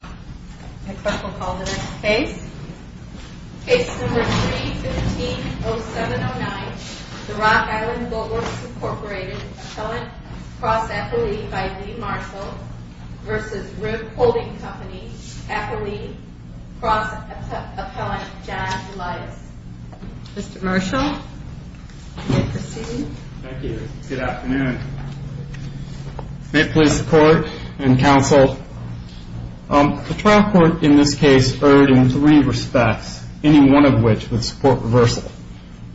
Case No. 315-0709, The Rock Island Boatworks, Inc. Appellant Cross-Appellee by Lee Marshall v. Rib Holding Company Appellee Cross-Appellant John Elias Mr. Marshall, you may proceed. Thank you. Good afternoon. May it please the Court and Counsel, The trial court in this case erred in three respects, any one of which would support reversal.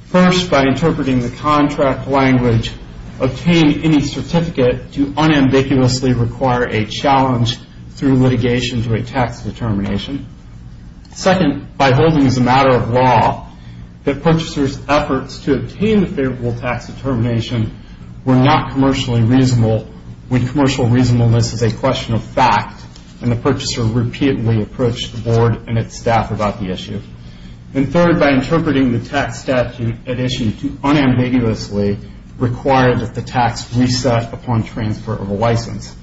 First, by interpreting the contract language, obtain any certificate to unambiguously require a challenge through litigation to a tax determination. Second, by holding as a matter of law that purchasers' efforts to obtain the favorable tax determination were not commercially reasonable when commercial reasonableness is a question of fact and the purchaser repeatedly approached the Board and its staff about the issue. And third, by interpreting the tax statute at issue to unambiguously require that the tax reset upon transfer of a license.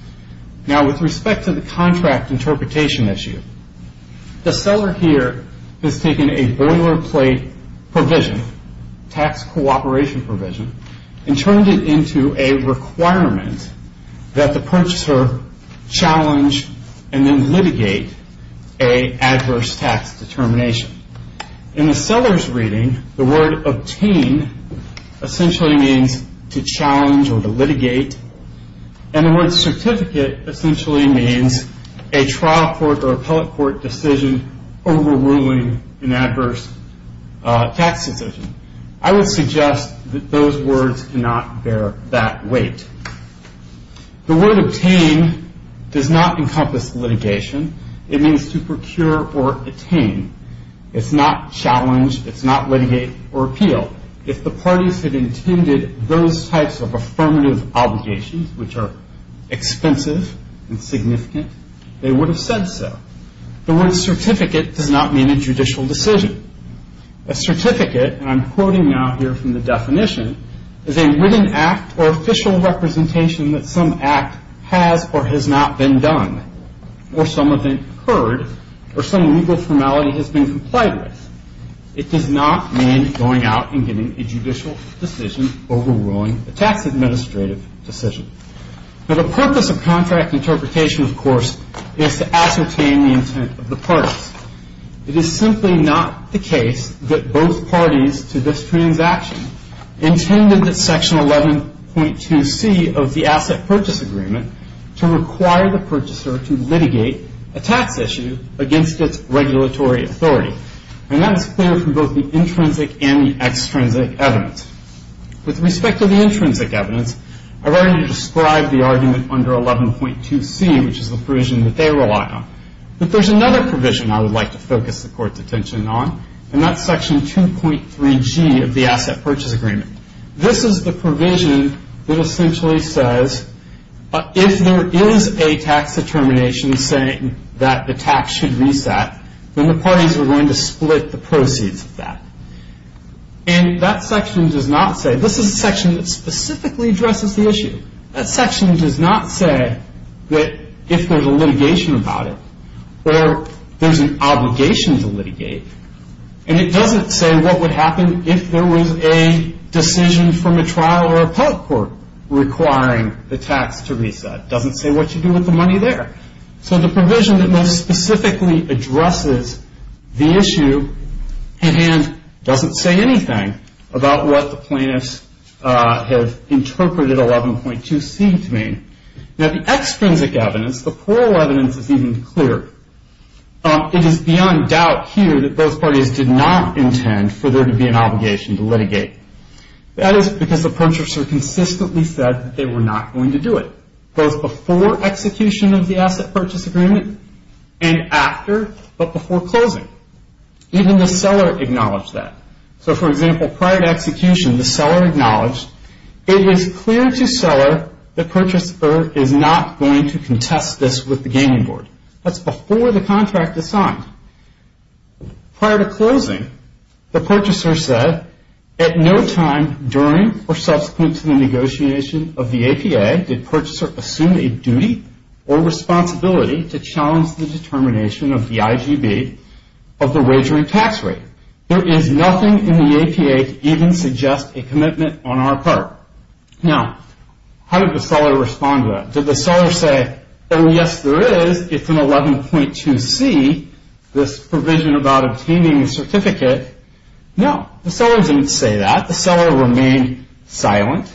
Now, with respect to the contract interpretation issue, the seller here has taken a boilerplate provision, tax cooperation provision, and turned it into a requirement that the purchaser challenge and then litigate an adverse tax determination. In the seller's reading, the word obtain essentially means to challenge or to litigate, and the word certificate essentially means a trial court or appellate court decision overruling an adverse tax decision. I would suggest that those words cannot bear that weight. The word obtain does not encompass litigation. It means to procure or attain. It's not challenge. It's not litigate or appeal. If the parties had intended those types of affirmative obligations, which are expensive and significant, they would have said so. The word certificate does not mean a judicial decision. A certificate, and I'm quoting now here from the definition, is a written act or official representation that some act has or has not been done, or some event occurred, or some legal formality has been complied with. It does not mean going out and getting a judicial decision overruling a tax administrative decision. Now, the purpose of contract interpretation, of course, is to ascertain the intent of the parties. It is simply not the case that both parties to this transaction intended that Section 11.2C of the Asset Purchase Agreement to require the purchaser to litigate a tax issue against its regulatory authority, and that is clear from both the intrinsic and the extrinsic evidence. With respect to the intrinsic evidence, I've already described the argument under 11.2C, which is the provision that they rely on. But there's another provision I would like to focus the Court's attention on, and that's Section 2.3G of the Asset Purchase Agreement. This is the provision that essentially says if there is a tax determination saying that the tax should reset, then the parties are going to split the proceeds of that. And that section does not say, this is a section that specifically addresses the issue. That section does not say that if there's a litigation about it or there's an obligation to litigate, and it doesn't say what would happen if there was a decision from a trial or appellate court requiring the tax to reset. It doesn't say what you do with the money there. So the provision that most specifically addresses the issue doesn't say anything about what the plaintiffs have interpreted 11.2C to mean. Now, the extrinsic evidence, the plural evidence, is even clearer. It is beyond doubt here that both parties did not intend for there to be an obligation to litigate. That is because the purchaser consistently said that they were not going to do it, both before execution of the Asset Purchase Agreement and after, but before closing. Even the seller acknowledged that. So for example, prior to execution, the seller acknowledged, it is clear to seller the purchaser is not going to contest this with the gaming board. That's before the contract is signed. Prior to closing, the purchaser said at no time during or subsequent to the negotiation of the APA did purchaser assume a duty or responsibility to challenge the determination of the IGB of the wagering tax rate. There is nothing in the APA to even suggest a commitment on our part. Now, how did the seller respond to that? Did the seller say, well, yes, there is. It's an 11.2C, this provision about obtaining a certificate. No, the seller didn't say that. The seller remained silent.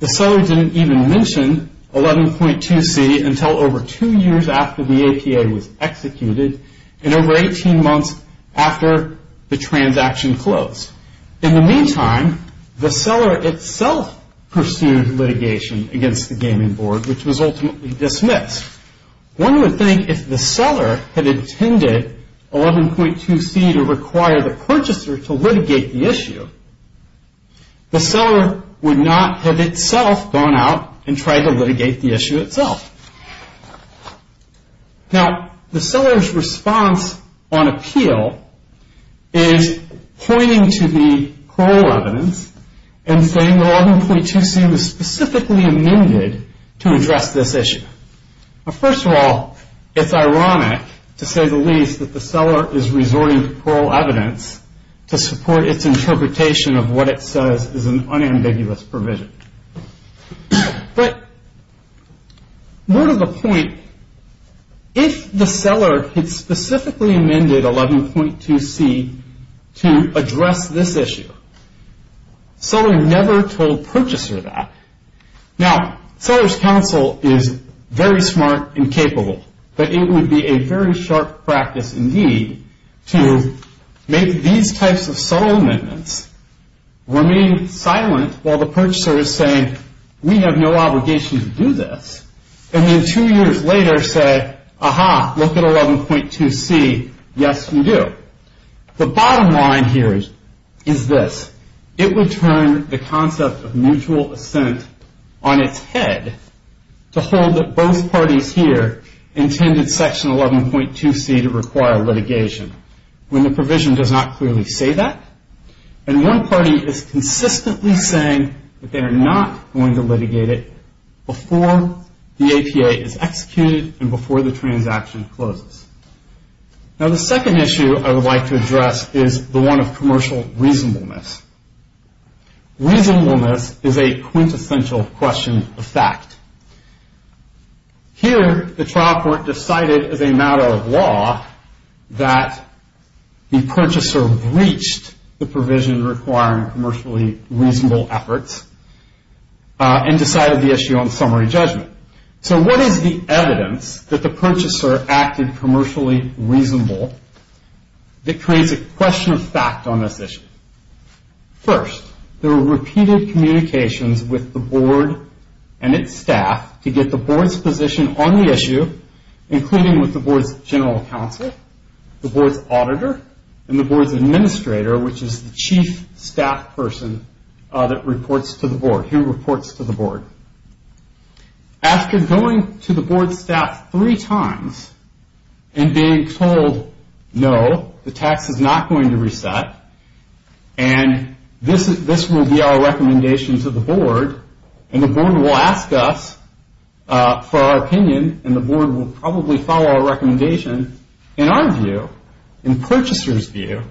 The seller didn't even mention 11.2C until over two years after the APA was executed and over 18 months after the transaction closed. In the meantime, the seller itself pursued litigation against the gaming board, which was ultimately dismissed. One would think if the seller had intended 11.2C to require the purchaser to litigate the issue, the seller would not have itself gone out and tried to litigate the issue itself. Now, the seller's response on appeal is pointing to the parole evidence and saying the 11.2C was specifically amended to address this issue. First of all, it's ironic to say the least that the seller is resorting to parole evidence to support its interpretation of what it says is an unambiguous provision. But more to the point, if the seller had specifically amended 11.2C to address this issue, seller never told purchaser that. Now, seller's counsel is very smart and capable, but it would be a very sharp practice indeed to make these types of subtle amendments, remain silent while the purchaser is saying we have no obligation to do this, and then two years later say, aha, look at 11.2C, yes, we do. The bottom line here is this. It would turn the concept of mutual assent on its head to hold that both parties here intended Section 11.2C to require litigation when the provision does not clearly say that, and one party is consistently saying that they are not going to litigate it before the APA is executed and before the transaction closes. Now, the second issue I would like to address is the one of commercial reasonableness. Reasonableness is a quintessential question of fact. Here, the trial court decided as a matter of law that the purchaser breached the provision requiring commercially reasonable efforts and decided the issue on summary judgment. So what is the evidence that the purchaser acted commercially reasonable that creates a question of fact on this issue? First, there were repeated communications with the board and its staff to get the board's position on the issue, including with the board's general counsel, the board's auditor, and the board's administrator, which is the chief staff person that reports to the board, who reports to the board. After going to the board's staff three times and being told, no, the tax is not going to reset, and this will be our recommendation to the board, and the board will ask us for our opinion, and the board will probably follow our recommendation. In our view, in purchaser's view,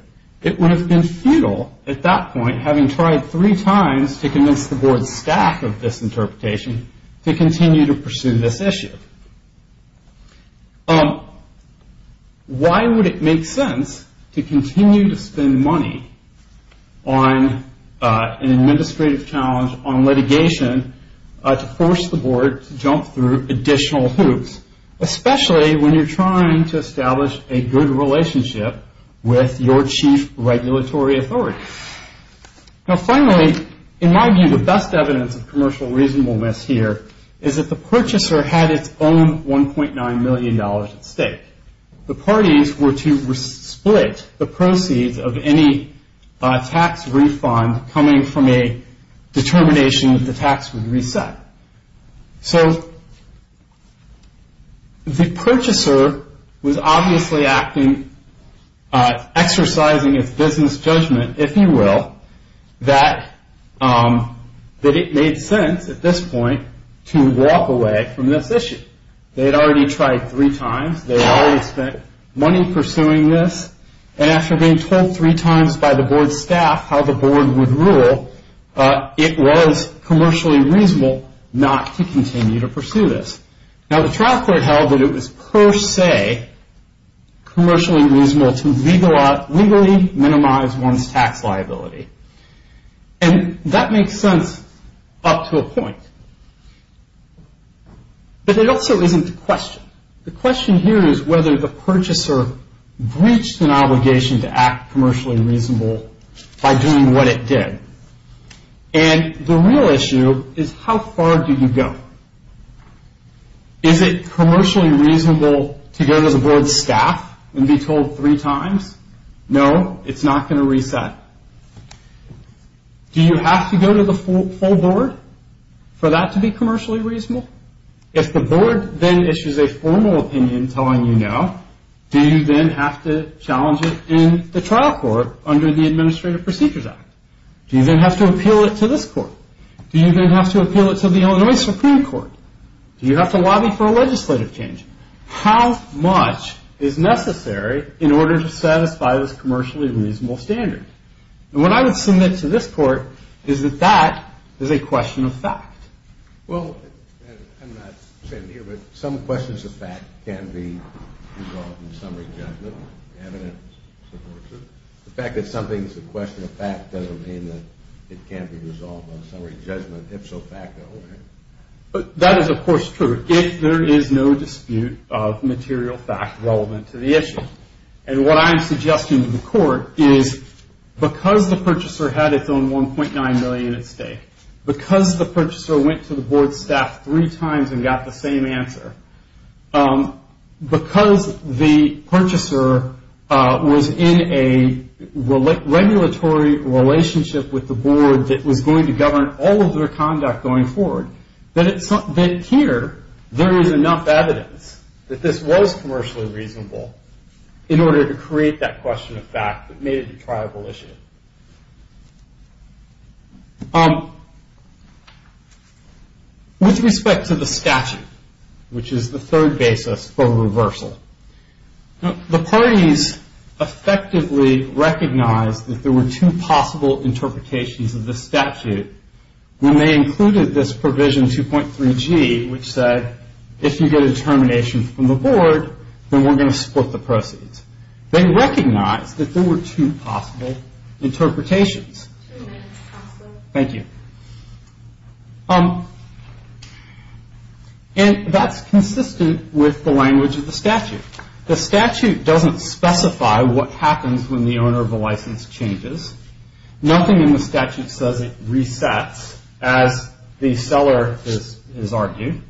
it would have been futile at that point, having tried three times to convince the board's staff of this interpretation to continue to pursue this issue. Why would it make sense to continue to spend money on an administrative challenge, on litigation, to force the board to jump through additional hoops, especially when you're trying to establish a good relationship with your chief regulatory authority? Now, finally, in my view, the best evidence of commercial reasonableness here is that the purchaser had its own $1.9 million at stake. The parties were to split the proceeds of any tax refund coming from a determination that the tax would reset. So the purchaser was obviously exercising its business judgment, if you will, that it made sense at this point to walk away from this issue. They had already tried three times. They had already spent money pursuing this, and after being told three times by the board's staff how the board would rule, it was commercially reasonable not to continue to pursue this. Now, the trial court held that it was per se commercially reasonable to legally minimize one's tax liability. And that makes sense up to a point. But it also isn't the question. The question here is whether the purchaser breached an obligation to act commercially reasonable by doing what it did. And the real issue is how far do you go? Is it commercially reasonable to go to the board's staff and be told three times, no, it's not going to reset? Do you have to go to the full board for that to be commercially reasonable? If the board then issues a formal opinion telling you no, do you then have to challenge it in the trial court under the Administrative Procedures Act? Do you then have to appeal it to this court? Do you then have to appeal it to the Illinois Supreme Court? Do you have to lobby for a legislative change? How much is necessary in order to satisfy this commercially reasonable standard? And what I would submit to this court is that that is a question of fact. Well, I'm not saying here, but some questions of fact can be involved in summary judgment. Evidence supports it. The fact that something is a question of fact doesn't mean that it can't be resolved on summary judgment. If so, fact it over. That is, of course, true. There is no dispute of material fact relevant to the issue. And what I'm suggesting to the court is because the purchaser had its own $1.9 million at stake, because the purchaser went to the board staff three times and got the same answer, because the purchaser was in a regulatory relationship with the board that was going to govern all of their conduct going forward, that here there is enough evidence that this was commercially reasonable in order to create that question of fact that made it a triable issue. With respect to the statute, which is the third basis for reversal, the parties effectively recognized that there were two possible interpretations of the statute when they included this provision 2.3G, which said, if you get a determination from the board, then we're going to split the proceeds. They recognized that there were two possible interpretations. Thank you. And that's consistent with the language of the statute. The statute doesn't specify what happens when the owner of the license changes. Nothing in the statute says it resets, as the seller has argued.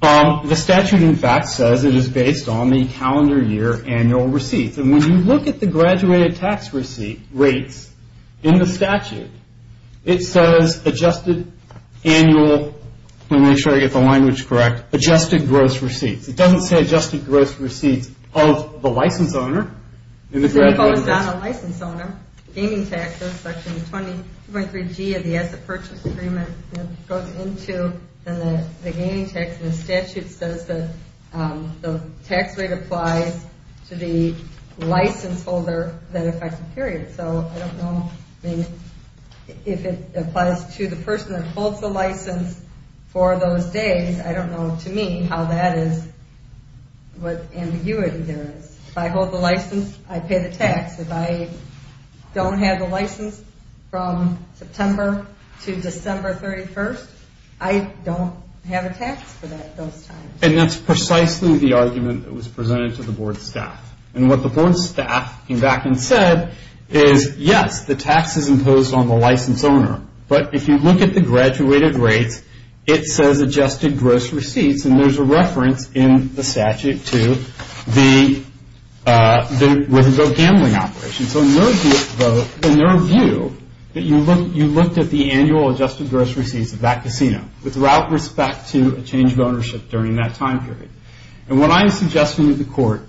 The statute, in fact, says it is based on the calendar year annual receipts. And when you look at the graduated tax receipt rates in the statute, it says adjusted annual – let me make sure I get the language correct – adjusted gross receipts. It doesn't say adjusted gross receipts of the license owner. It only goes on a license owner. Gaining taxes, section 20.3G of the Asset Purchase Agreement goes into the gaining tax. And the statute says that the tax rate applies to the license holder that effects the period. So I don't know if it applies to the person that holds the license for those days. I don't know, to me, how that is – what ambiguity there is. If I hold the license, I pay the tax. If I don't have the license from September to December 31st, I don't have a tax for that at those times. And that's precisely the argument that was presented to the board staff. And what the board staff came back and said is, yes, the tax is imposed on the license owner. But if you look at the graduated rates, it says adjusted gross receipts. And there's a reference in the statute to the gambling operation. So in their view, you looked at the annual adjusted gross receipts of that casino with route respect to a change of ownership during that time period. And what I am suggesting to the court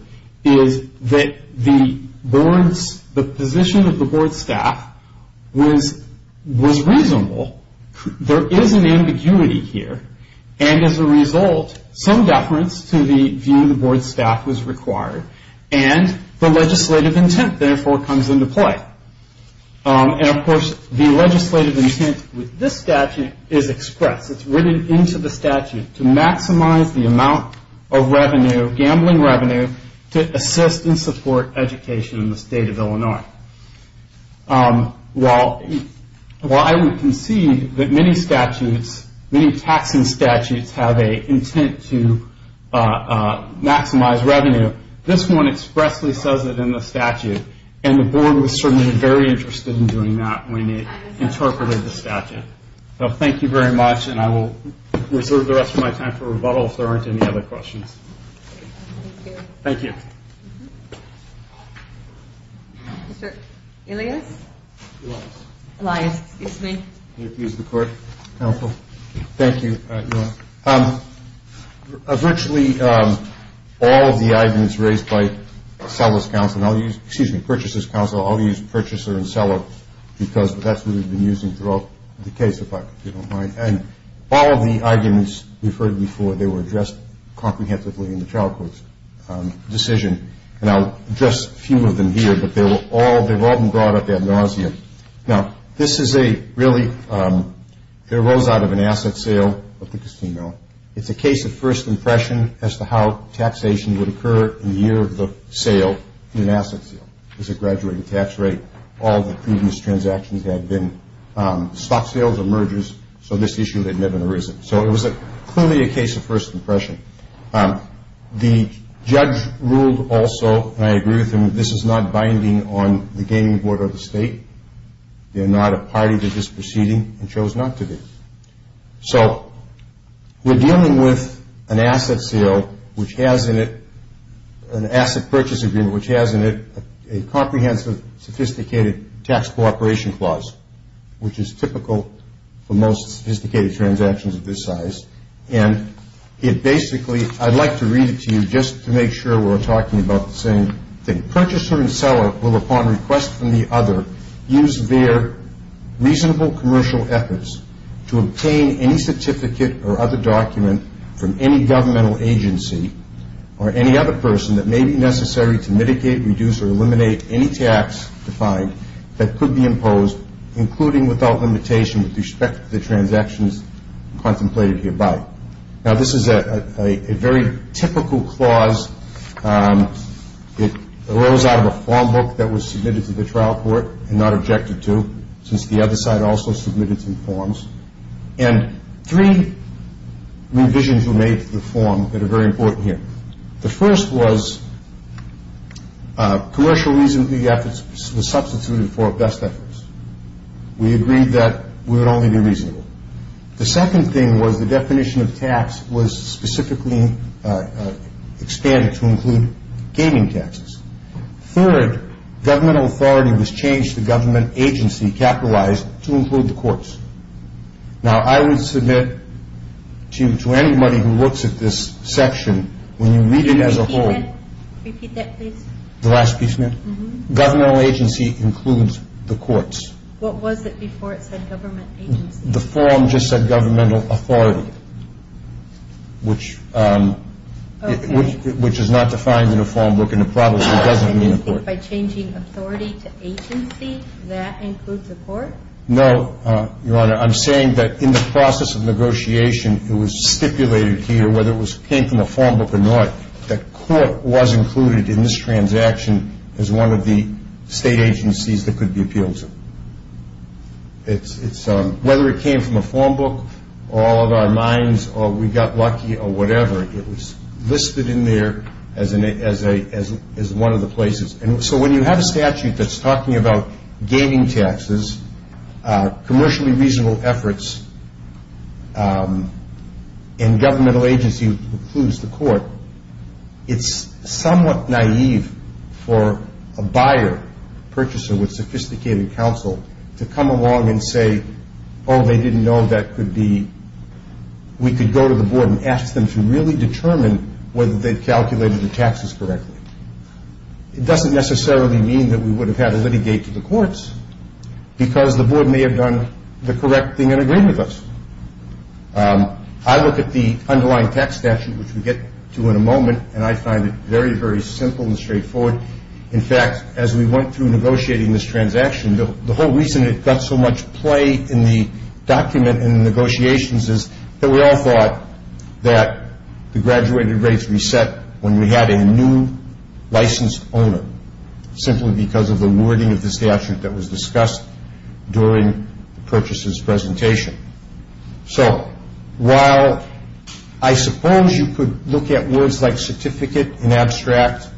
is that the board's – the position of the board staff was reasonable. There is an ambiguity here. And as a result, some deference to the view of the board staff was required. And the legislative intent, therefore, comes into play. And, of course, the legislative intent with this statute is expressed. It's written into the statute to maximize the amount of revenue, gambling revenue, to assist and support education in the state of Illinois. While I would concede that many statutes, many taxing statutes, have an intent to maximize revenue, this one expressly says it in the statute. And the board was certainly very interested in doing that when it interpreted the statute. So thank you very much. And I will reserve the rest of my time for rebuttal if there aren't any other questions. Thank you. Mr. Elias? Elias. Elias, excuse me. May I please use the court counsel? Thank you, Your Honor. Virtually all of the arguments raised by seller's counsel – excuse me, purchaser's counsel, I'll use purchaser and seller because that's what we've been using throughout the case, if you don't mind. And all of the arguments we've heard before, they were addressed comprehensively in the trial court's decision. And I'll address a few of them here, but they've all been brought up ad nauseam. Now, this is a really – it arose out of an asset sale of the casino. It's a case of first impression as to how taxation would occur in the year of the sale in an asset sale. There's a graduating tax rate. All the previous transactions had been stock sales or mergers, so this issue had never arisen. So it was clearly a case of first impression. The judge ruled also, and I agree with him, this is not binding on the gaming board or the state. They're not a party. They're just proceeding and chose not to do it. So we're dealing with an asset sale, which has in it an asset purchase agreement, which has in it a comprehensive, sophisticated tax cooperation clause, which is typical for most sophisticated transactions of this size. And it basically – I'd like to read it to you just to make sure we're talking about the same thing. Purchaser and seller will, upon request from the other, use their reasonable commercial efforts to obtain any certificate or other document from any governmental agency or any other person that may be necessary to mitigate, reduce, or eliminate any tax defined that could be imposed, including without limitation with respect to the transactions contemplated hereby. Now, this is a very typical clause. It arose out of a form book that was submitted to the trial court and not objected to, since the other side also submitted some forms. And three revisions were made to the form that are very important here. The first was commercial reasonable efforts was substituted for best efforts. We agreed that we would only do reasonable. The second thing was the definition of tax was specifically expanded to include gaming taxes. Third, governmental authority was changed to government agency capitalized to include the courts. Now, I would submit to anybody who looks at this section, when you read it as a whole. Repeat that, please. The last piece, ma'am? Governmental agency includes the courts. What was it before it said government agency? The form just said governmental authority, which is not defined in a form book and probably doesn't mean the court. By changing authority to agency, that includes the court? No, Your Honor. I'm saying that in the process of negotiation, it was stipulated here, whether it came from a form book or not, that court was included in this transaction as one of the state agencies that could be appealed to. Whether it came from a form book or out of our minds or we got lucky or whatever, it was listed in there as one of the places. So when you have a statute that's talking about gaming taxes, commercially reasonable efforts, and governmental agency includes the court, it's somewhat naive for a buyer, a purchaser with sophisticated counsel, to come along and say, oh, they didn't know that could be. We could go to the board and ask them to really determine whether they've calculated the taxes correctly. It doesn't necessarily mean that we would have had a litigate to the courts because the board may have done the correct thing and agreed with us. I look at the underlying tax statute, which we'll get to in a moment, and I find it very, very simple and straightforward. In fact, as we went through negotiating this transaction, the whole reason it got so much play in the document and the negotiations is that we all thought that the graduated rates reset when we had a new licensed owner, simply because of the wording of the statute that was discussed during the purchaser's presentation. So while I suppose you could look at words like certificate in abstract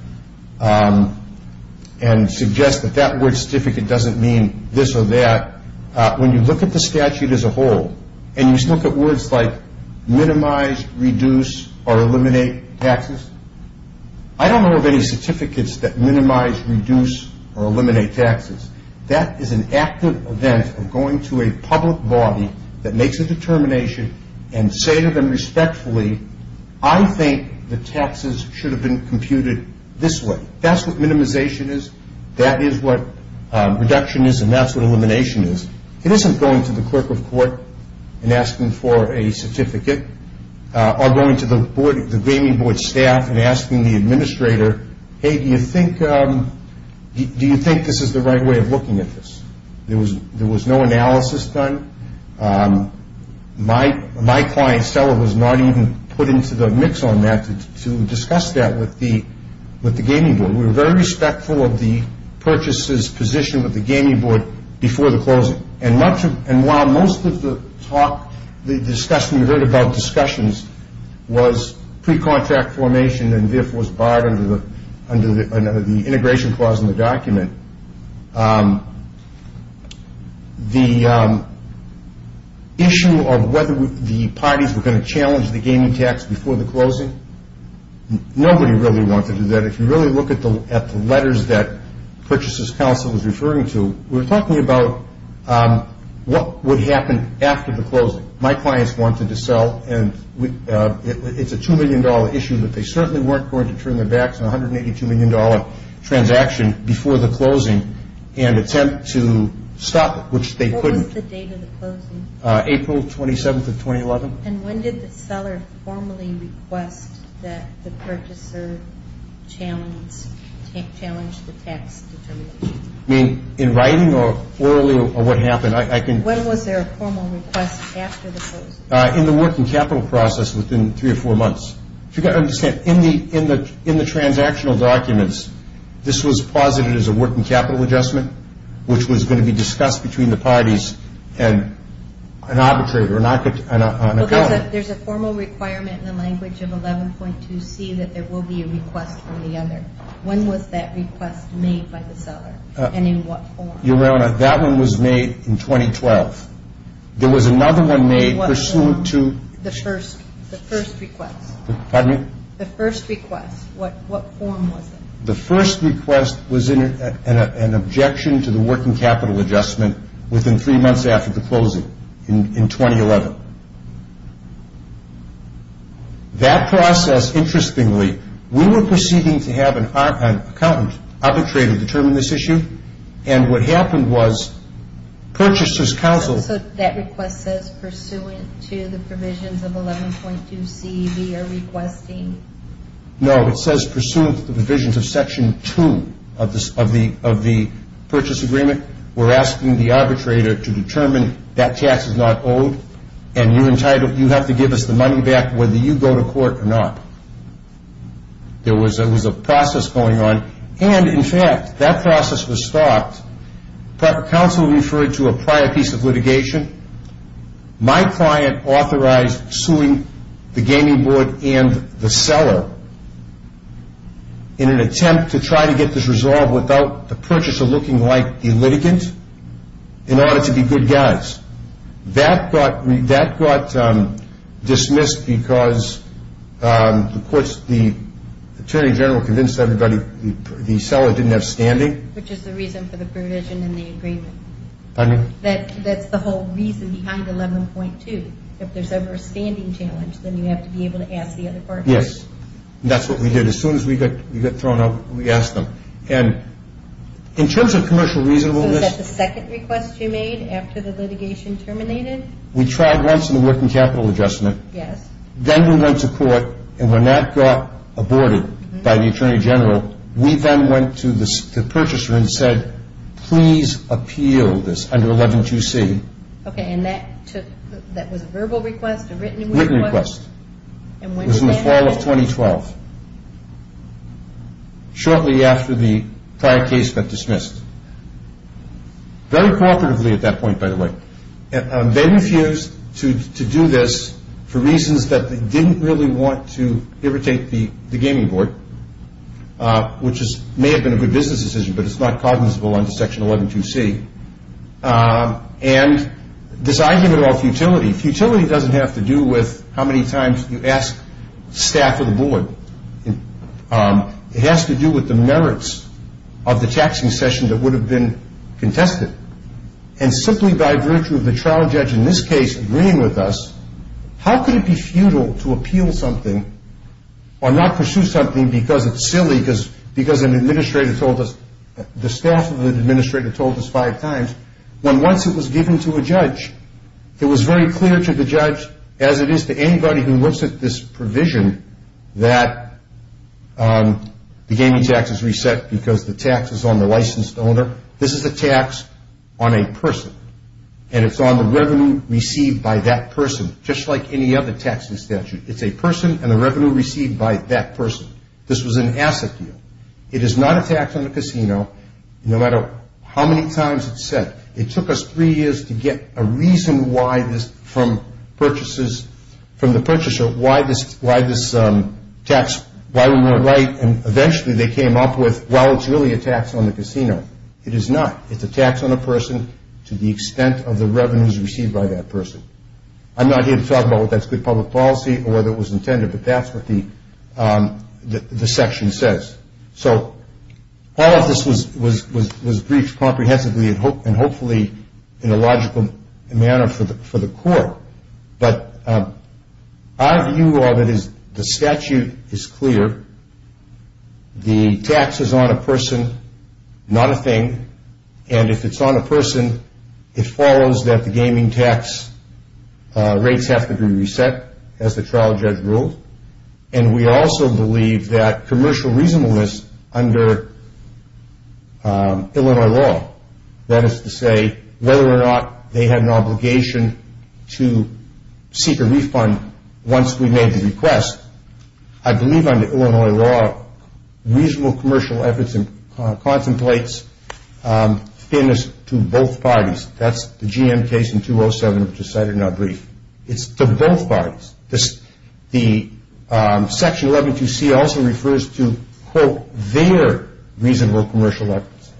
and suggest that that word certificate doesn't mean this or that, when you look at the statute as a whole and you look at words like minimize, reduce, or eliminate taxes, I don't know of any certificates that minimize, reduce, or eliminate taxes. That is an active event of going to a public body that makes a determination and say to them respectfully, I think the taxes should have been computed this way. That's what minimization is, that is what reduction is, and that's what elimination is. It isn't going to the clerk of court and asking for a certificate or going to the gaming board staff and asking the administrator, hey, do you think this is the right way of looking at this? There was no analysis done. My client seller was not even put into the mix on that to discuss that with the gaming board. We were very respectful of the purchaser's position with the gaming board before the closing, and while most of the discussion we heard about discussions was pre-contract formation and therefore was barred under the integration clause in the document, the issue of whether the parties were going to challenge the gaming tax before the closing, nobody really wanted to do that. If you really look at the letters that purchaser's counsel was referring to, we were talking about what would happen after the closing. My clients wanted to sell, and it's a $2 million issue, but they certainly weren't going to turn their backs on a $182 million transaction before the closing and attempt to stop it, which they couldn't. What was the date of the closing? April 27th of 2011. And when did the seller formally request that the purchaser challenge the tax determination? In writing or orally or what happened? When was there a formal request after the closing? In the working capital process within three or four months. You've got to understand, in the transactional documents, this was posited as a working capital adjustment, which was going to be discussed between the parties and an arbitrator, an accountant. There's a formal requirement in the language of 11.2c that there will be a request from the other. When was that request made by the seller, and in what form? Your Honor, that one was made in 2012. There was another one made pursuant to the first request. Pardon me? The first request. What form was it? The first request was an objection to the working capital adjustment within three months after the closing in 2011. That process, interestingly, we were proceeding to have an accountant, arbitrator determine this issue, and what happened was purchasers counseled. So that request says pursuant to the provisions of 11.2c, we are requesting? No, it says pursuant to the provisions of Section 2 of the purchase agreement. We're asking the arbitrator to determine that tax is not owed, and you have to give us the money back whether you go to court or not. There was a process going on, and in fact, that process was stopped. Counsel referred to a prior piece of litigation. My client authorized suing the gaming board and the seller in an attempt to try to get this resolved without the purchaser looking like a litigant in order to be good guys. That got dismissed because the attorney general convinced everybody the seller didn't have standing. Which is the reason for the provision in the agreement. Pardon me? That's the whole reason behind 11.2. If there's ever a standing challenge, then you have to be able to ask the other parties. Yes, and that's what we did. As soon as we got thrown out, we asked them. And in terms of commercial reasonableness. Was that the second request you made after the litigation terminated? We tried once in the working capital adjustment. Yes. Then we went to court, and when that got aborted by the attorney general, we then went to the purchaser and said, please appeal this under 11.2c. Okay, and that was a verbal request or written request? Written request. And when did that happen? It was in the fall of 2012. Shortly after the prior case got dismissed. Very cooperatively at that point, by the way. They refused to do this for reasons that they didn't really want to irritate the gaming board. Which may have been a good business decision, but it's not cognizable under section 11.2c. And this argument about futility. Futility doesn't have to do with how many times you ask staff or the board. It has to do with the merits of the taxing session that would have been contested. And simply by virtue of the trial judge in this case agreeing with us, how could it be futile to appeal something or not pursue something because it's silly, because an administrator told us, the staff of the administrator told us five times, when once it was given to a judge, it was very clear to the judge, as it is to anybody who looks at this provision, that the gaming tax is reset because the tax is on the licensed owner. This is a tax on a person. And it's on the revenue received by that person, just like any other taxing statute. It's a person and the revenue received by that person. This was an asset deal. It is not a tax on the casino, no matter how many times it's said. It took us three years to get a reason from the purchaser why this tax, why we weren't right, and eventually they came up with, well, it's really a tax on the casino. It is not. It's a tax on a person to the extent of the revenues received by that person. I'm not here to talk about whether that's good public policy or whether it was intended, but that's what the section says. So all of this was briefed comprehensively and hopefully in a logical manner for the court, but our view of it is the statute is clear. The tax is on a person, not a thing, and if it's on a person, it follows that the gaming tax rates have to be reset, as the trial judge ruled, and we also believe that commercial reasonableness under Illinois law, that is to say whether or not they had an obligation to seek a refund once we made the request, I believe under Illinois law reasonable commercial efforts and contemplates fairness to both parties. That's the GM case in 207, which was cited in our brief. It's to both parties. The section 112C also refers to, quote, their reasonable commercial efforts,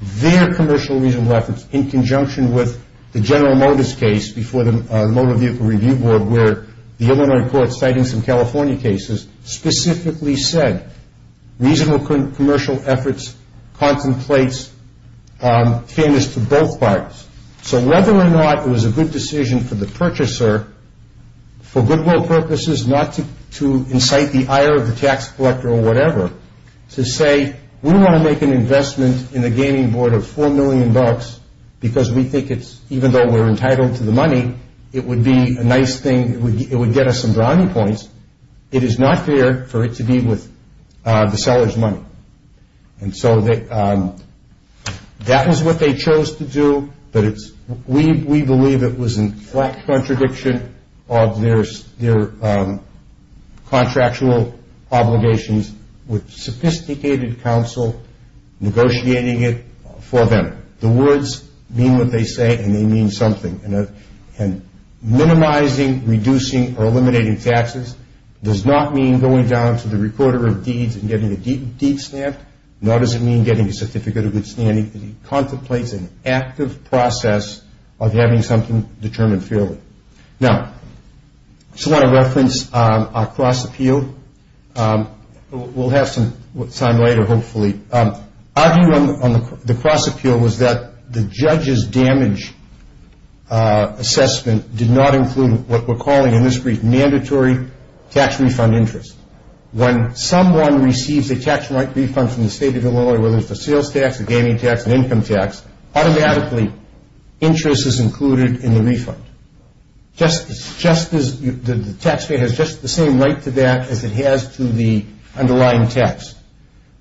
their commercial reasonable efforts in conjunction with the General Motors case before the Motor Vehicle Review Board where the Illinois court citing some California cases specifically said reasonable commercial efforts contemplates fairness to both parties. So whether or not it was a good decision for the purchaser for goodwill purposes, not to incite the ire of the tax collector or whatever, to say, we want to make an investment in the gaming board of $4 million because we think it's, even though we're entitled to the money, it would be a nice thing, it would get us some brownie points. It is not fair for it to be with the seller's money. And so that was what they chose to do, but we believe it was in flat contradiction of their contractual obligations with sophisticated counsel negotiating it for them. The words mean what they say and they mean something. And minimizing, reducing, or eliminating taxes does not mean going down to the recorder of deeds and getting a deed stamped, nor does it mean getting a certificate of good standing. It contemplates an active process of having something determined fairly. Now, I just want to reference our cross-appeal. We'll have some time later, hopefully. Our view on the cross-appeal was that the judge's damage assessment did not include what we're calling in this brief mandatory tax refund interest. When someone receives a tax-like refund from the state of Illinois, whether it's a sales tax, a gaming tax, an income tax, automatically interest is included in the refund. The taxpayer has just the same right to that as it has to the underlying tax.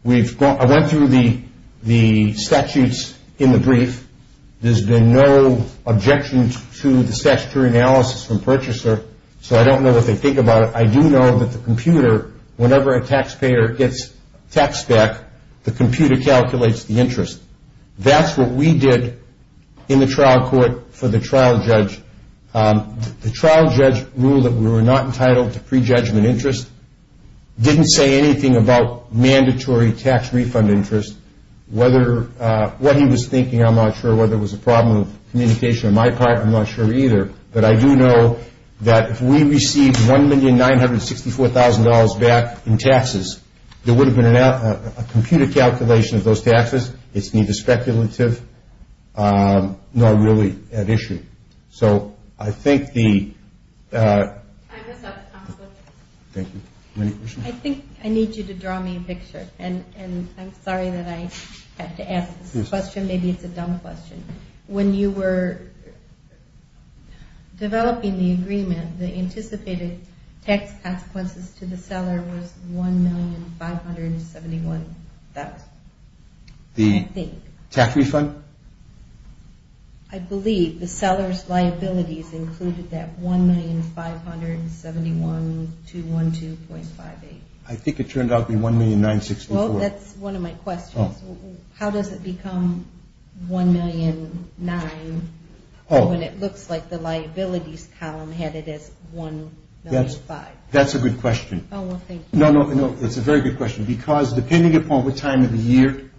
I went through the statutes in the brief. There's been no objection to the statutory analysis from purchaser, so I don't know what they think about it. I do know that the computer, whenever a taxpayer gets taxed back, the computer calculates the interest. That's what we did in the trial court for the trial judge. The trial judge ruled that we were not entitled to prejudgment interest, didn't say anything about mandatory tax refund interest. What he was thinking, I'm not sure. Whether it was a problem of communication on my part, I'm not sure either. But I do know that if we received $1,964,000 back in taxes, there would have been a computer calculation of those taxes. It's neither speculative nor really at issue. So I think the ‑‑ I think I need you to draw me a picture, and I'm sorry that I have to ask this question. Maybe it's a dumb question. When you were developing the agreement, the anticipated tax consequences to the seller was $1,571,000. The tax refund? I believe the seller's liabilities included that $1,571,000 to $1,258,000. I think it turned out to be $1,964,000. That's one of my questions. How does it become $1,009,000 when it looks like the liabilities column had it as $1,005,000? That's a good question. Oh, well, thank you. No, no, it's a very good question. Because depending upon what time of the year,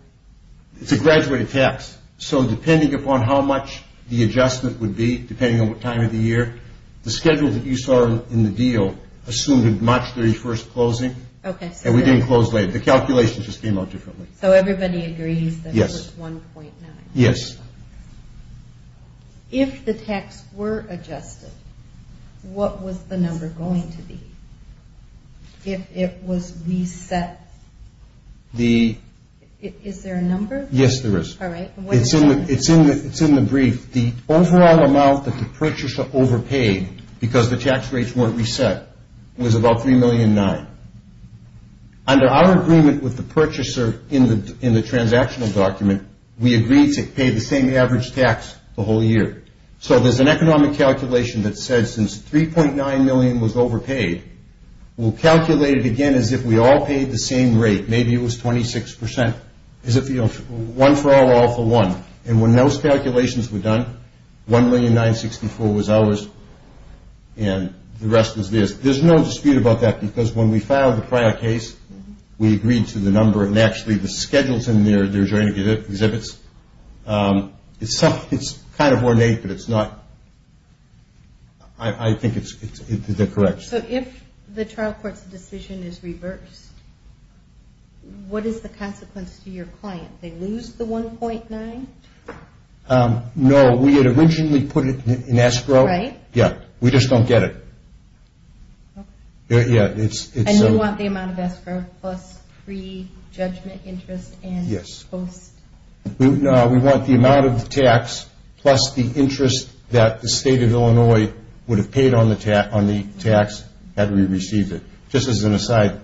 it's a graduated tax. So depending upon how much the adjustment would be, depending on what time of the year, the schedule that you saw in the deal assumed a March 31st closing, and we didn't close later. So everybody agrees that it was $1,009,000. Yes. If the tax were adjusted, what was the number going to be if it was reset? Is there a number? Yes, there is. All right. It's in the brief. The overall amount that the purchaser overpaid because the tax rates weren't reset was about $3,009,000. Under our agreement with the purchaser in the transactional document, we agreed to pay the same average tax the whole year. So there's an economic calculation that says since $3,009,000 was overpaid, we'll calculate it again as if we all paid the same rate, maybe it was 26%, as if one for all, all for one. And when those calculations were done, $1,009,064 was ours, and the rest was theirs. There's no dispute about that because when we filed the prior case, we agreed to the number, and actually the schedules in their joint exhibits, it's kind of ornate, but it's not. I think they're correct. So if the trial court's decision is reversed, what is the consequence to your client? They lose the $1,009,000? No. We had originally put it in escrow. Right. Yeah. We just don't get it. Okay. Yeah. And you want the amount of escrow plus pre-judgment interest and post? Yes. No, we want the amount of tax plus the interest that the State of Illinois would have paid on the tax had we received it. Just as an aside,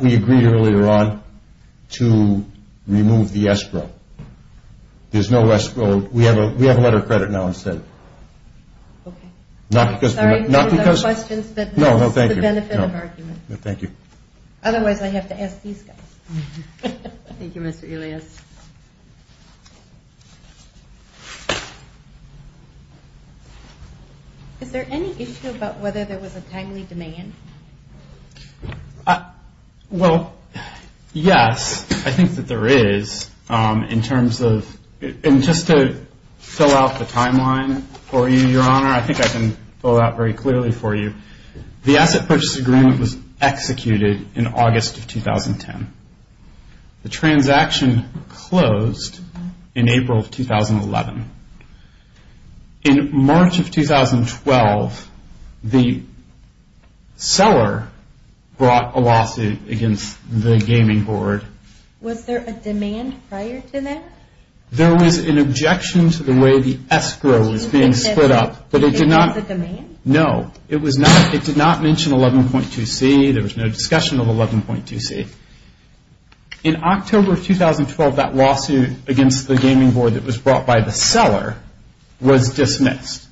we agreed earlier on to remove the escrow. There's no escrow. We have a letter of credit now instead. Okay. Sorry, no questions, but this is the benefit of argument. Thank you. Otherwise, I have to ask these guys. Thank you, Mr. Elias. Is there any issue about whether there was a timely demand? Well, yes, I think that there is. In terms of just to fill out the timeline for you, Your Honor, I think I can fill it out very clearly for you. The asset purchase agreement was executed in August of 2010. The transaction closed in April of 2011. In March of 2012, the seller brought a lawsuit against the gaming board. Was there a demand prior to that? There was an objection to the way the escrow was being split up, but it did not. It was a demand? No, it did not mention 11.2C. There was no discussion of 11.2C. In October of 2012, that lawsuit against the gaming board that was brought by the seller was dismissed.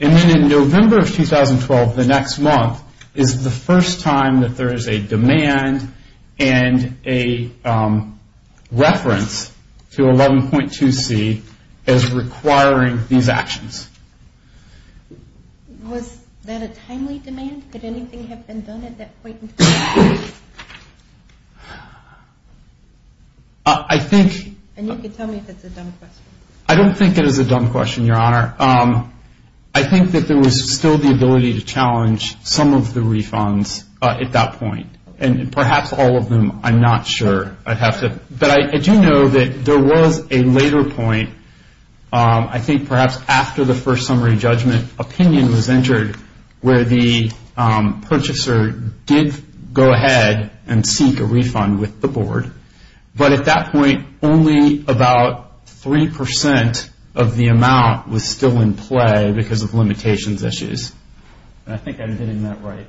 And then in November of 2012, the next month, is the first time that there is a demand and a reference to 11.2C as requiring these actions. Was that a timely demand? Could anything have been done at that point in time? I think – And you can tell me if it's a dumb question. I don't think it is a dumb question, Your Honor. I think that there was still the ability to challenge some of the refunds at that point. And perhaps all of them, I'm not sure. But I do know that there was a later point, I think perhaps after the first summary judgment, opinion was entered where the purchaser did go ahead and seek a refund with the board. But at that point, only about 3% of the amount was still in play because of limitations issues. And I think I'm getting that right.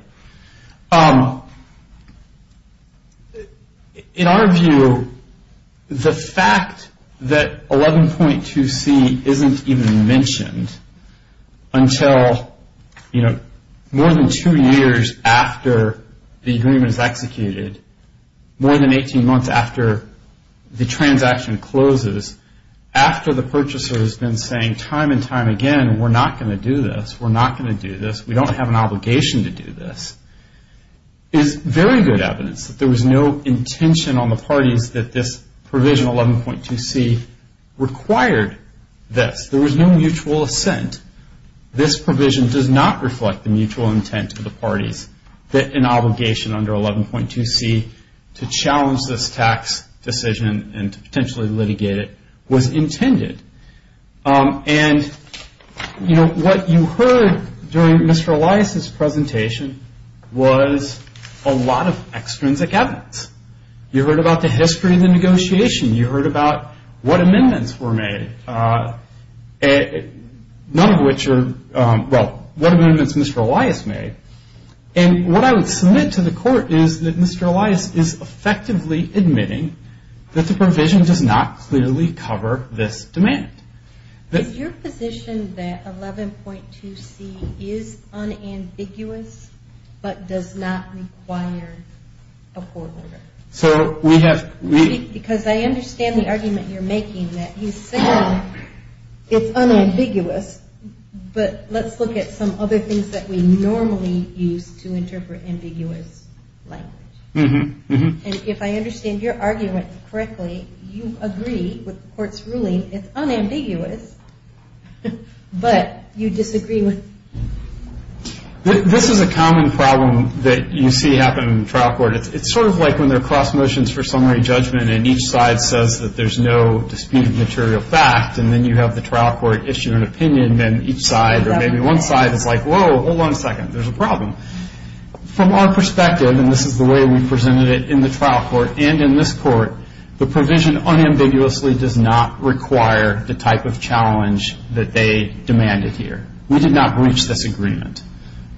In our view, the fact that 11.2C isn't even mentioned until, you know, more than two years after the agreement is executed, more than 18 months after the transaction closes, after the purchaser has been saying time and time again, we're not going to do this, we're not going to do this, we don't have an obligation to do this, is very good evidence that there was no intention on the parties that this provision 11.2C required this. There was no mutual assent. This provision does not reflect the mutual intent of the parties that an obligation under 11.2C to challenge this tax decision and to potentially litigate it was intended. And, you know, what you heard during Mr. Elias' presentation was a lot of extrinsic evidence. You heard about the history of the negotiation. You heard about what amendments were made. None of which are, well, what amendments Mr. Elias made. And what I would submit to the court is that Mr. Elias is effectively admitting that the provision does not clearly cover this demand. Is your position that 11.2C is unambiguous but does not require a court order? Because I understand the argument you're making that you say it's unambiguous, but let's look at some other things that we normally use to interpret ambiguous language. And if I understand your argument correctly, you agree with the court's ruling, it's unambiguous, but you disagree with it. This is a common problem that you see happen in the trial court. It's sort of like when there are class motions for summary judgment and each side says that there's no disputed material fact and then you have the trial court issue an opinion and each side or maybe one side is like, whoa, hold on a second, there's a problem. From our perspective, and this is the way we presented it in the trial court and in this court, the provision unambiguously does not require the type of challenge that they demanded here. We did not breach this agreement.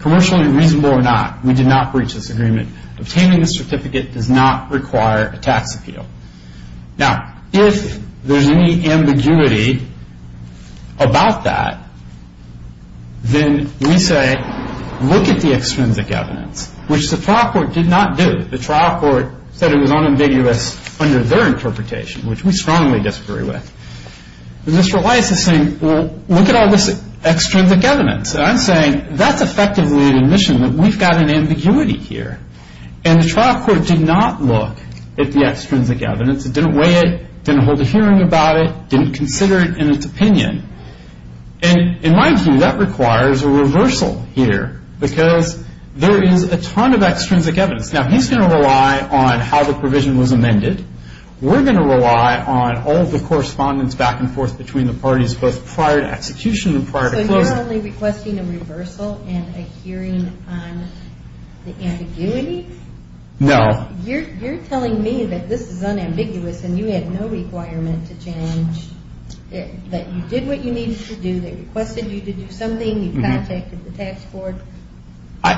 Commercially reasonable or not, we did not breach this agreement. Obtaining the certificate does not require a tax appeal. Now, if there's any ambiguity about that, then we say look at the extrinsic evidence, which the trial court did not do. The trial court said it was unambiguous under their interpretation, which we strongly disagree with. This relies on saying, well, look at all this extrinsic evidence. I'm saying that's effectively an admission that we've got an ambiguity here. And the trial court did not look at the extrinsic evidence. It didn't weigh it. It didn't hold a hearing about it. It didn't consider it in its opinion. And in my view, that requires a reversal here because there is a ton of extrinsic evidence. Now, he's going to rely on how the provision was amended. We're going to rely on all the correspondence back and forth between the parties, both prior to execution and prior to closing. So you're only requesting a reversal and a hearing on the ambiguity? No. You're telling me that this is unambiguous and you had no requirement to challenge it, that you did what you needed to do, they requested you to do something, you contacted the tax board. I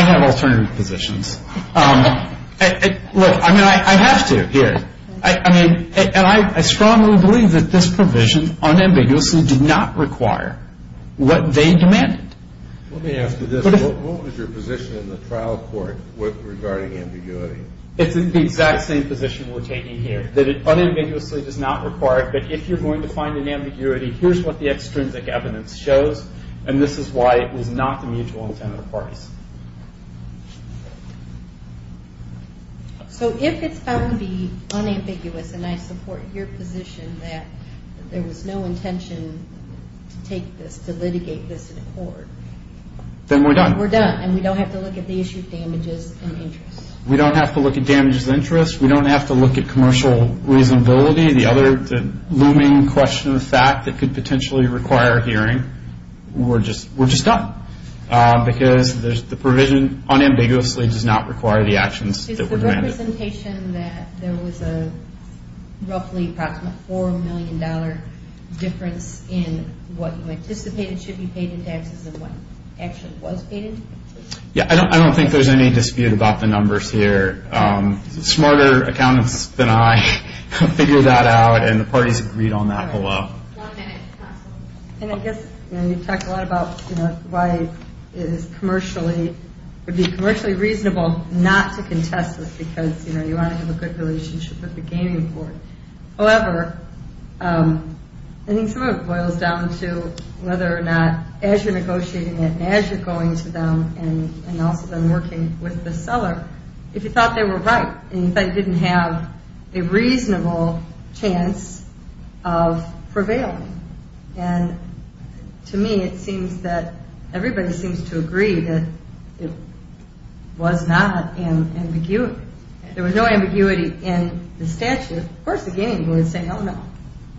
have alternative positions. Look, I mean, I have to here. I mean, and I strongly believe that this provision unambiguously did not require what they demanded. Let me ask you this. What was your position in the trial court regarding ambiguity? It's the exact same position we're taking here, that it unambiguously does not require it, but if you're going to find an ambiguity, here's what the extrinsic evidence shows, and this is why it was not the mutual intent of the parties. So if it's found to be unambiguous, and I support your position that there was no intention to take this, to litigate this in court. Then we're done. We're done, and we don't have to look at the issue of damages and interest. We don't have to look at damages and interest. We don't have to look at commercial reasonability, the other looming question of fact that could potentially require a hearing, we're just done. Because the provision unambiguously does not require the actions that were demanded. Is the representation that there was a roughly approximately $4 million difference in what you anticipated should be paid in taxes and what actually was paid in taxes? Yeah, I don't think there's any dispute about the numbers here. Smarter accountants than I figured that out, and the parties agreed on that below. And I guess you've talked a lot about why it would be commercially reasonable not to contest this because you want to have a good relationship with the gaming board. However, I think some of it boils down to whether or not as you're negotiating it, as you're going to them, and also then working with the seller, if you thought they were right and you thought you didn't have a reasonable chance of prevailing. And to me, it seems that everybody seems to agree that it was not ambiguity. There was no ambiguity in the statute. Of course, the gaming board would say, no, no,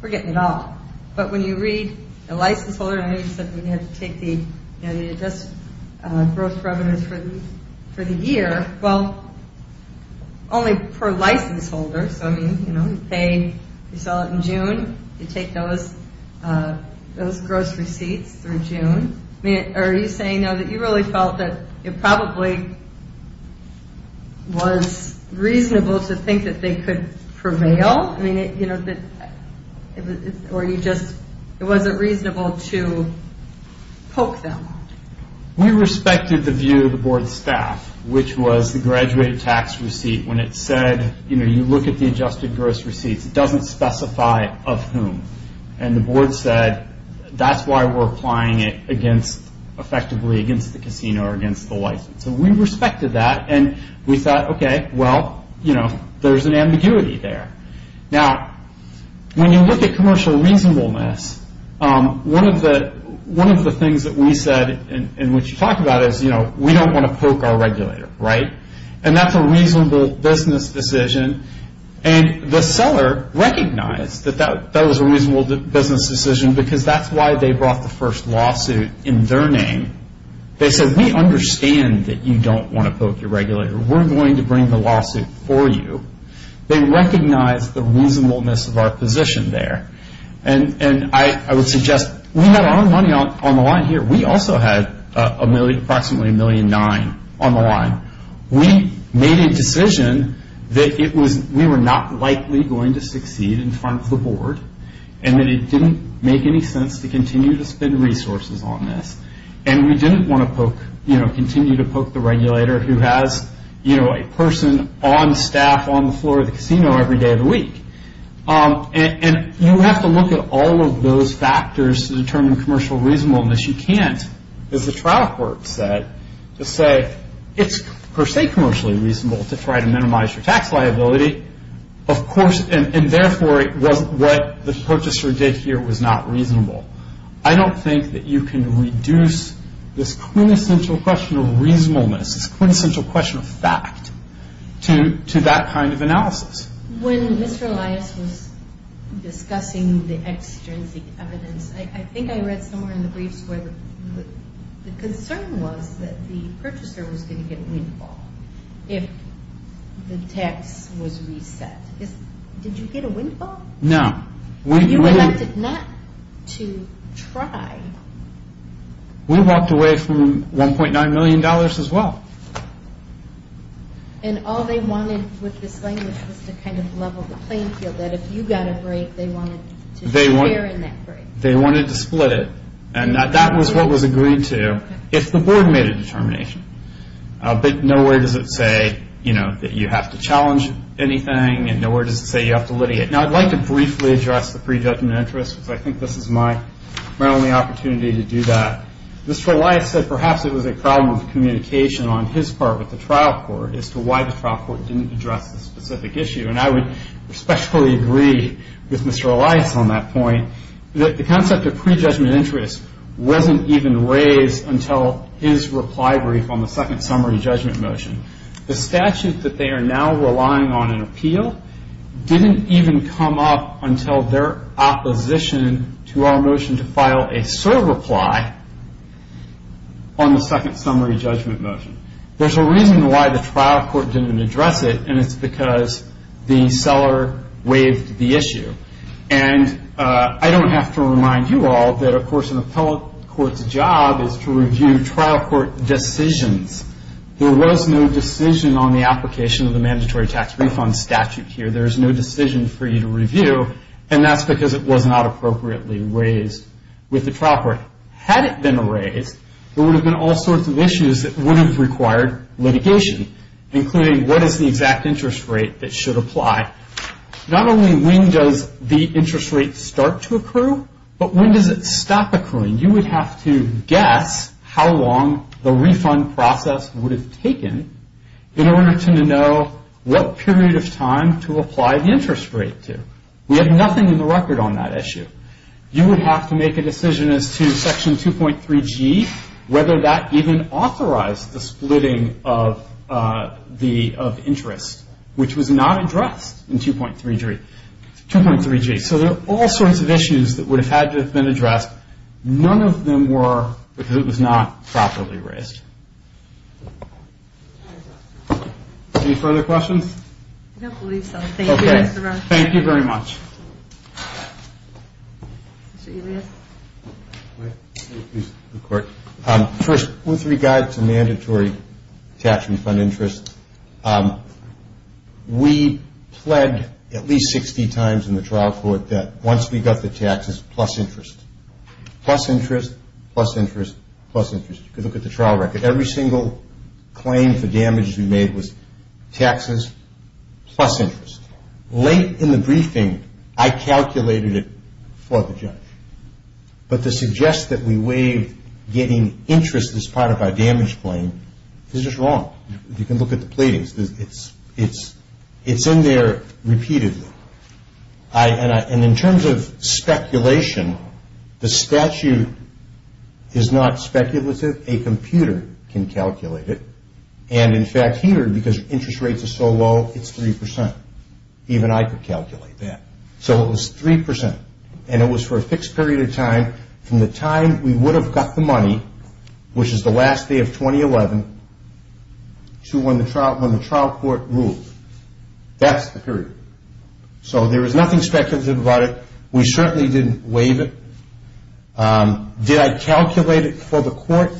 we're getting it all. But when you read the license holder, I know you said we had to take the gross revenues for the year. Well, only per license holder. So, I mean, you know, you pay, you sell it in June, you take those gross receipts through June. Are you saying now that you really felt that it probably was reasonable to think that they could prevail? I mean, you know, or you just, it wasn't reasonable to poke them? We respected the view of the board staff, which was the graduated tax receipt. When it said, you know, you look at the adjusted gross receipts, it doesn't specify of whom. And the board said, that's why we're applying it against, effectively against the casino or against the license. And we respected that and we thought, okay, well, you know, there's an ambiguity there. Now, when you look at commercial reasonableness, one of the things that we said, and what you talked about is, you know, we don't want to poke our regulator, right? And that's a reasonable business decision. And the seller recognized that that was a reasonable business decision, because that's why they brought the first lawsuit in their name. They said, we understand that you don't want to poke your regulator. We're going to bring the lawsuit for you. They recognized the reasonableness of our position there. And I would suggest, we had our own money on the line here. We also had approximately $1.9 million on the line. We made a decision that it was, we were not likely going to succeed in front of the board, and that it didn't make any sense to continue to spend resources on this. And we didn't want to poke, you know, continue to poke the regulator, who has, you know, a person on staff on the floor of the casino every day of the week. And you have to look at all of those factors to determine commercial reasonableness. You can't, as the trial court said, just say, it's per se commercially reasonable to try to minimize your tax liability. Of course, and therefore, what the purchaser did here was not reasonable. I don't think that you can reduce this quintessential question of reasonableness, this quintessential question of fact, to that kind of analysis. When Mr. Elias was discussing the extrinsic evidence, I think I read somewhere in the briefs where the concern was that the purchaser was going to get a windfall if the tax was reset. Did you get a windfall? No. You elected not to try. We walked away from $1.9 million as well. And all they wanted with this language was to kind of level the playing field, that if you got a break, they wanted to share in that break. They wanted to split it. And that was what was agreed to if the board made a determination. But nowhere does it say, you know, that you have to challenge anything, and nowhere does it say you have to litigate. Now, I'd like to briefly address the pre-judgment interest, because I think this is my only opportunity to do that. Mr. Elias said perhaps it was a problem of communication on his part with the trial court as to why the trial court didn't address the specific issue. And I would especially agree with Mr. Elias on that point, that the concept of pre-judgment interest wasn't even raised until his reply brief on the second summary judgment motion. The statute that they are now relying on in appeal didn't even come up until their opposition to our motion to file a SOAR reply on the second summary judgment motion. There's a reason why the trial court didn't address it, and it's because the seller waived the issue. And I don't have to remind you all that, of course, an appellate court's job is to review trial court decisions. There was no decision on the application of the mandatory tax refund statute here. There's no decision for you to review, and that's because it was not appropriately raised with the trial court. Had it been raised, there would have been all sorts of issues that would have required litigation, including what is the exact interest rate that should apply. Not only when does the interest rate start to accrue, but when does it stop accruing? You would have to guess how long the refund process would have taken in order to know what period of time to apply the interest rate to. We have nothing in the record on that issue. You would have to make a decision as to Section 2.3G, whether that even authorized the splitting of interest, which was not addressed in 2.3G. 2.3G. So there are all sorts of issues that would have had to have been addressed. None of them were because it was not properly raised. Any further questions? I don't believe so. Okay. Thank you very much. First, with regard to mandatory tax refund interest, we pled at least 60 times in the trial court that once we got the taxes plus interest, plus interest, plus interest, plus interest. You could look at the trial record. Every single claim for damages we made was taxes plus interest. Late in the briefing, I calculated it for the judge. But to suggest that we waived getting interest as part of our damage claim is just wrong. You can look at the pleadings. It's in there repeatedly. And in terms of speculation, the statute is not speculative. A computer can calculate it. And, in fact, here, because interest rates are so low, it's 3%. Even I could calculate that. So it was 3%. And it was for a fixed period of time. From the time we would have got the money, which is the last day of 2011, to when the trial court ruled. That's the period. So there is nothing speculative about it. We certainly didn't waive it. Did I calculate it for the court?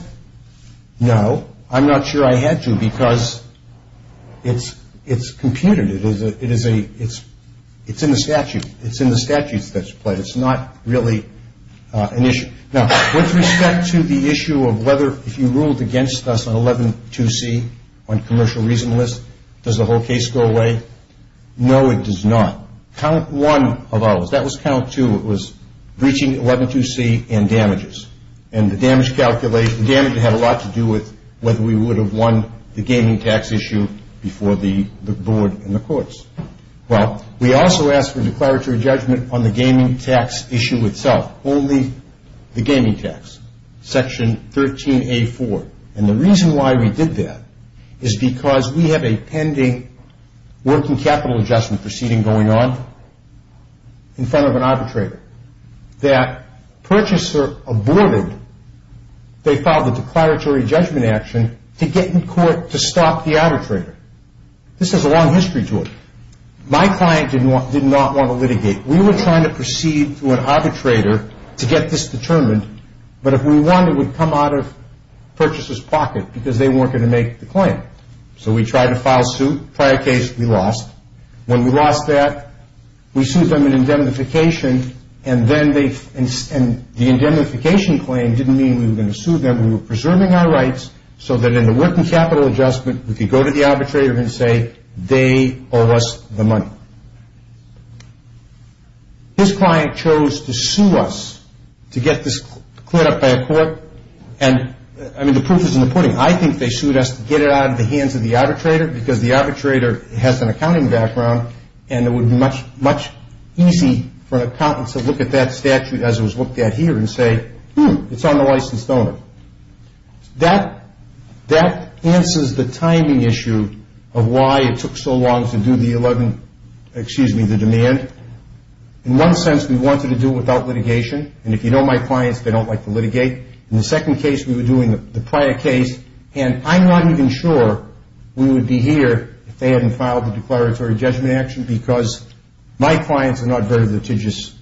No. I'm not sure I had to because it's computed. It's in the statute. It's in the statute that's pled. It's not really an issue. Now, with respect to the issue of whether if you ruled against us on 11.2c on commercial reason list, does the whole case go away? No, it does not. Count one of ours, that was count two, it was breaching 11.2c and damages. And the damage calculation, the damage had a lot to do with whether we would have won the gaming tax issue before the board and the courts. Well, we also asked for declaratory judgment on the gaming tax issue itself, only the gaming tax, section 13a4. And the reason why we did that is because we have a pending working capital adjustment proceeding going on in front of an arbitrator that purchaser aborted, they filed a declaratory judgment action to get in court to stop the arbitrator. This has a long history to it. My client did not want to litigate. We were trying to proceed to an arbitrator to get this determined. But if we won, it would come out of purchaser's pocket because they weren't going to make the claim. So we tried to file suit. Prior case, we lost. When we lost that, we sued them in indemnification, and the indemnification claim didn't mean we were going to sue them. We were preserving our rights so that in the working capital adjustment, we could go to the arbitrator and say they owe us the money. His client chose to sue us to get this cleared up by a court. And, I mean, the proof is in the pudding. I think they sued us to get it out of the hands of the arbitrator because the arbitrator has an accounting background, and it would be much easier for an accountant to look at that statute as it was looked at here and say, hmm, it's on the licensed owner. That answers the timing issue of why it took so long to do the demand. In one sense, we wanted to do it without litigation, and if you know my clients, they don't like to litigate. In the second case, we were doing the prior case, and I'm not even sure we would be here if they hadn't filed the declaratory judgment action because my clients are not very litigious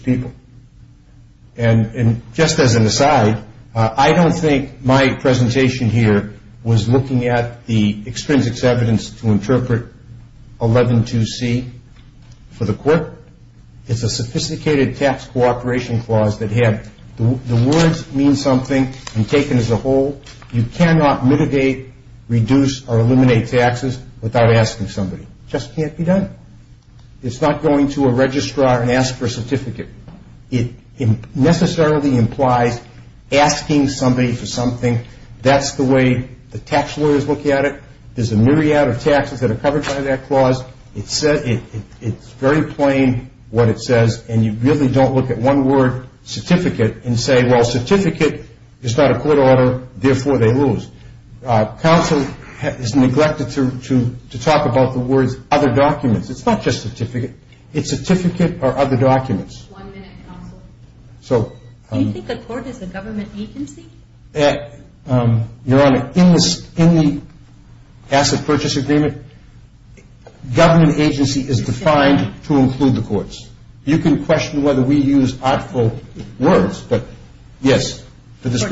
people. And just as an aside, I don't think my presentation here was looking at the extrinsic evidence to interpret 112C for the court. It's a sophisticated tax cooperation clause that had the words mean something and taken as a whole. You cannot mitigate, reduce, or eliminate taxes without asking somebody. It just can't be done. It's not going to a registrar and ask for a certificate. It necessarily implies asking somebody for something. That's the way the tax lawyers look at it. There's a myriad of taxes that are covered by that clause. It's very plain what it says, and you really don't look at one word, certificate, and say, well, certificate is not a court order, therefore they lose. Counsel is neglected to talk about the words other documents. It's not just certificate. It's certificate or other documents. One minute, counsel. Do you think the court is a government agency? Your Honor, in the asset purchase agreement, government agency is defined to include the courts. You can question whether we use awful words, but yes, that's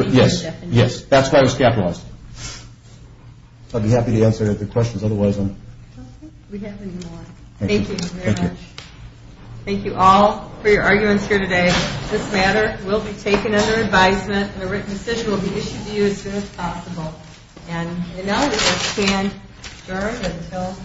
why it was capitalized. I'd be happy to answer the questions otherwise. Thank you very much. Thank you all for your arguments here today. This matter will be taken under advisement, and a written decision will be issued to you as soon as possible. And now we will stand adjourned until afternoon.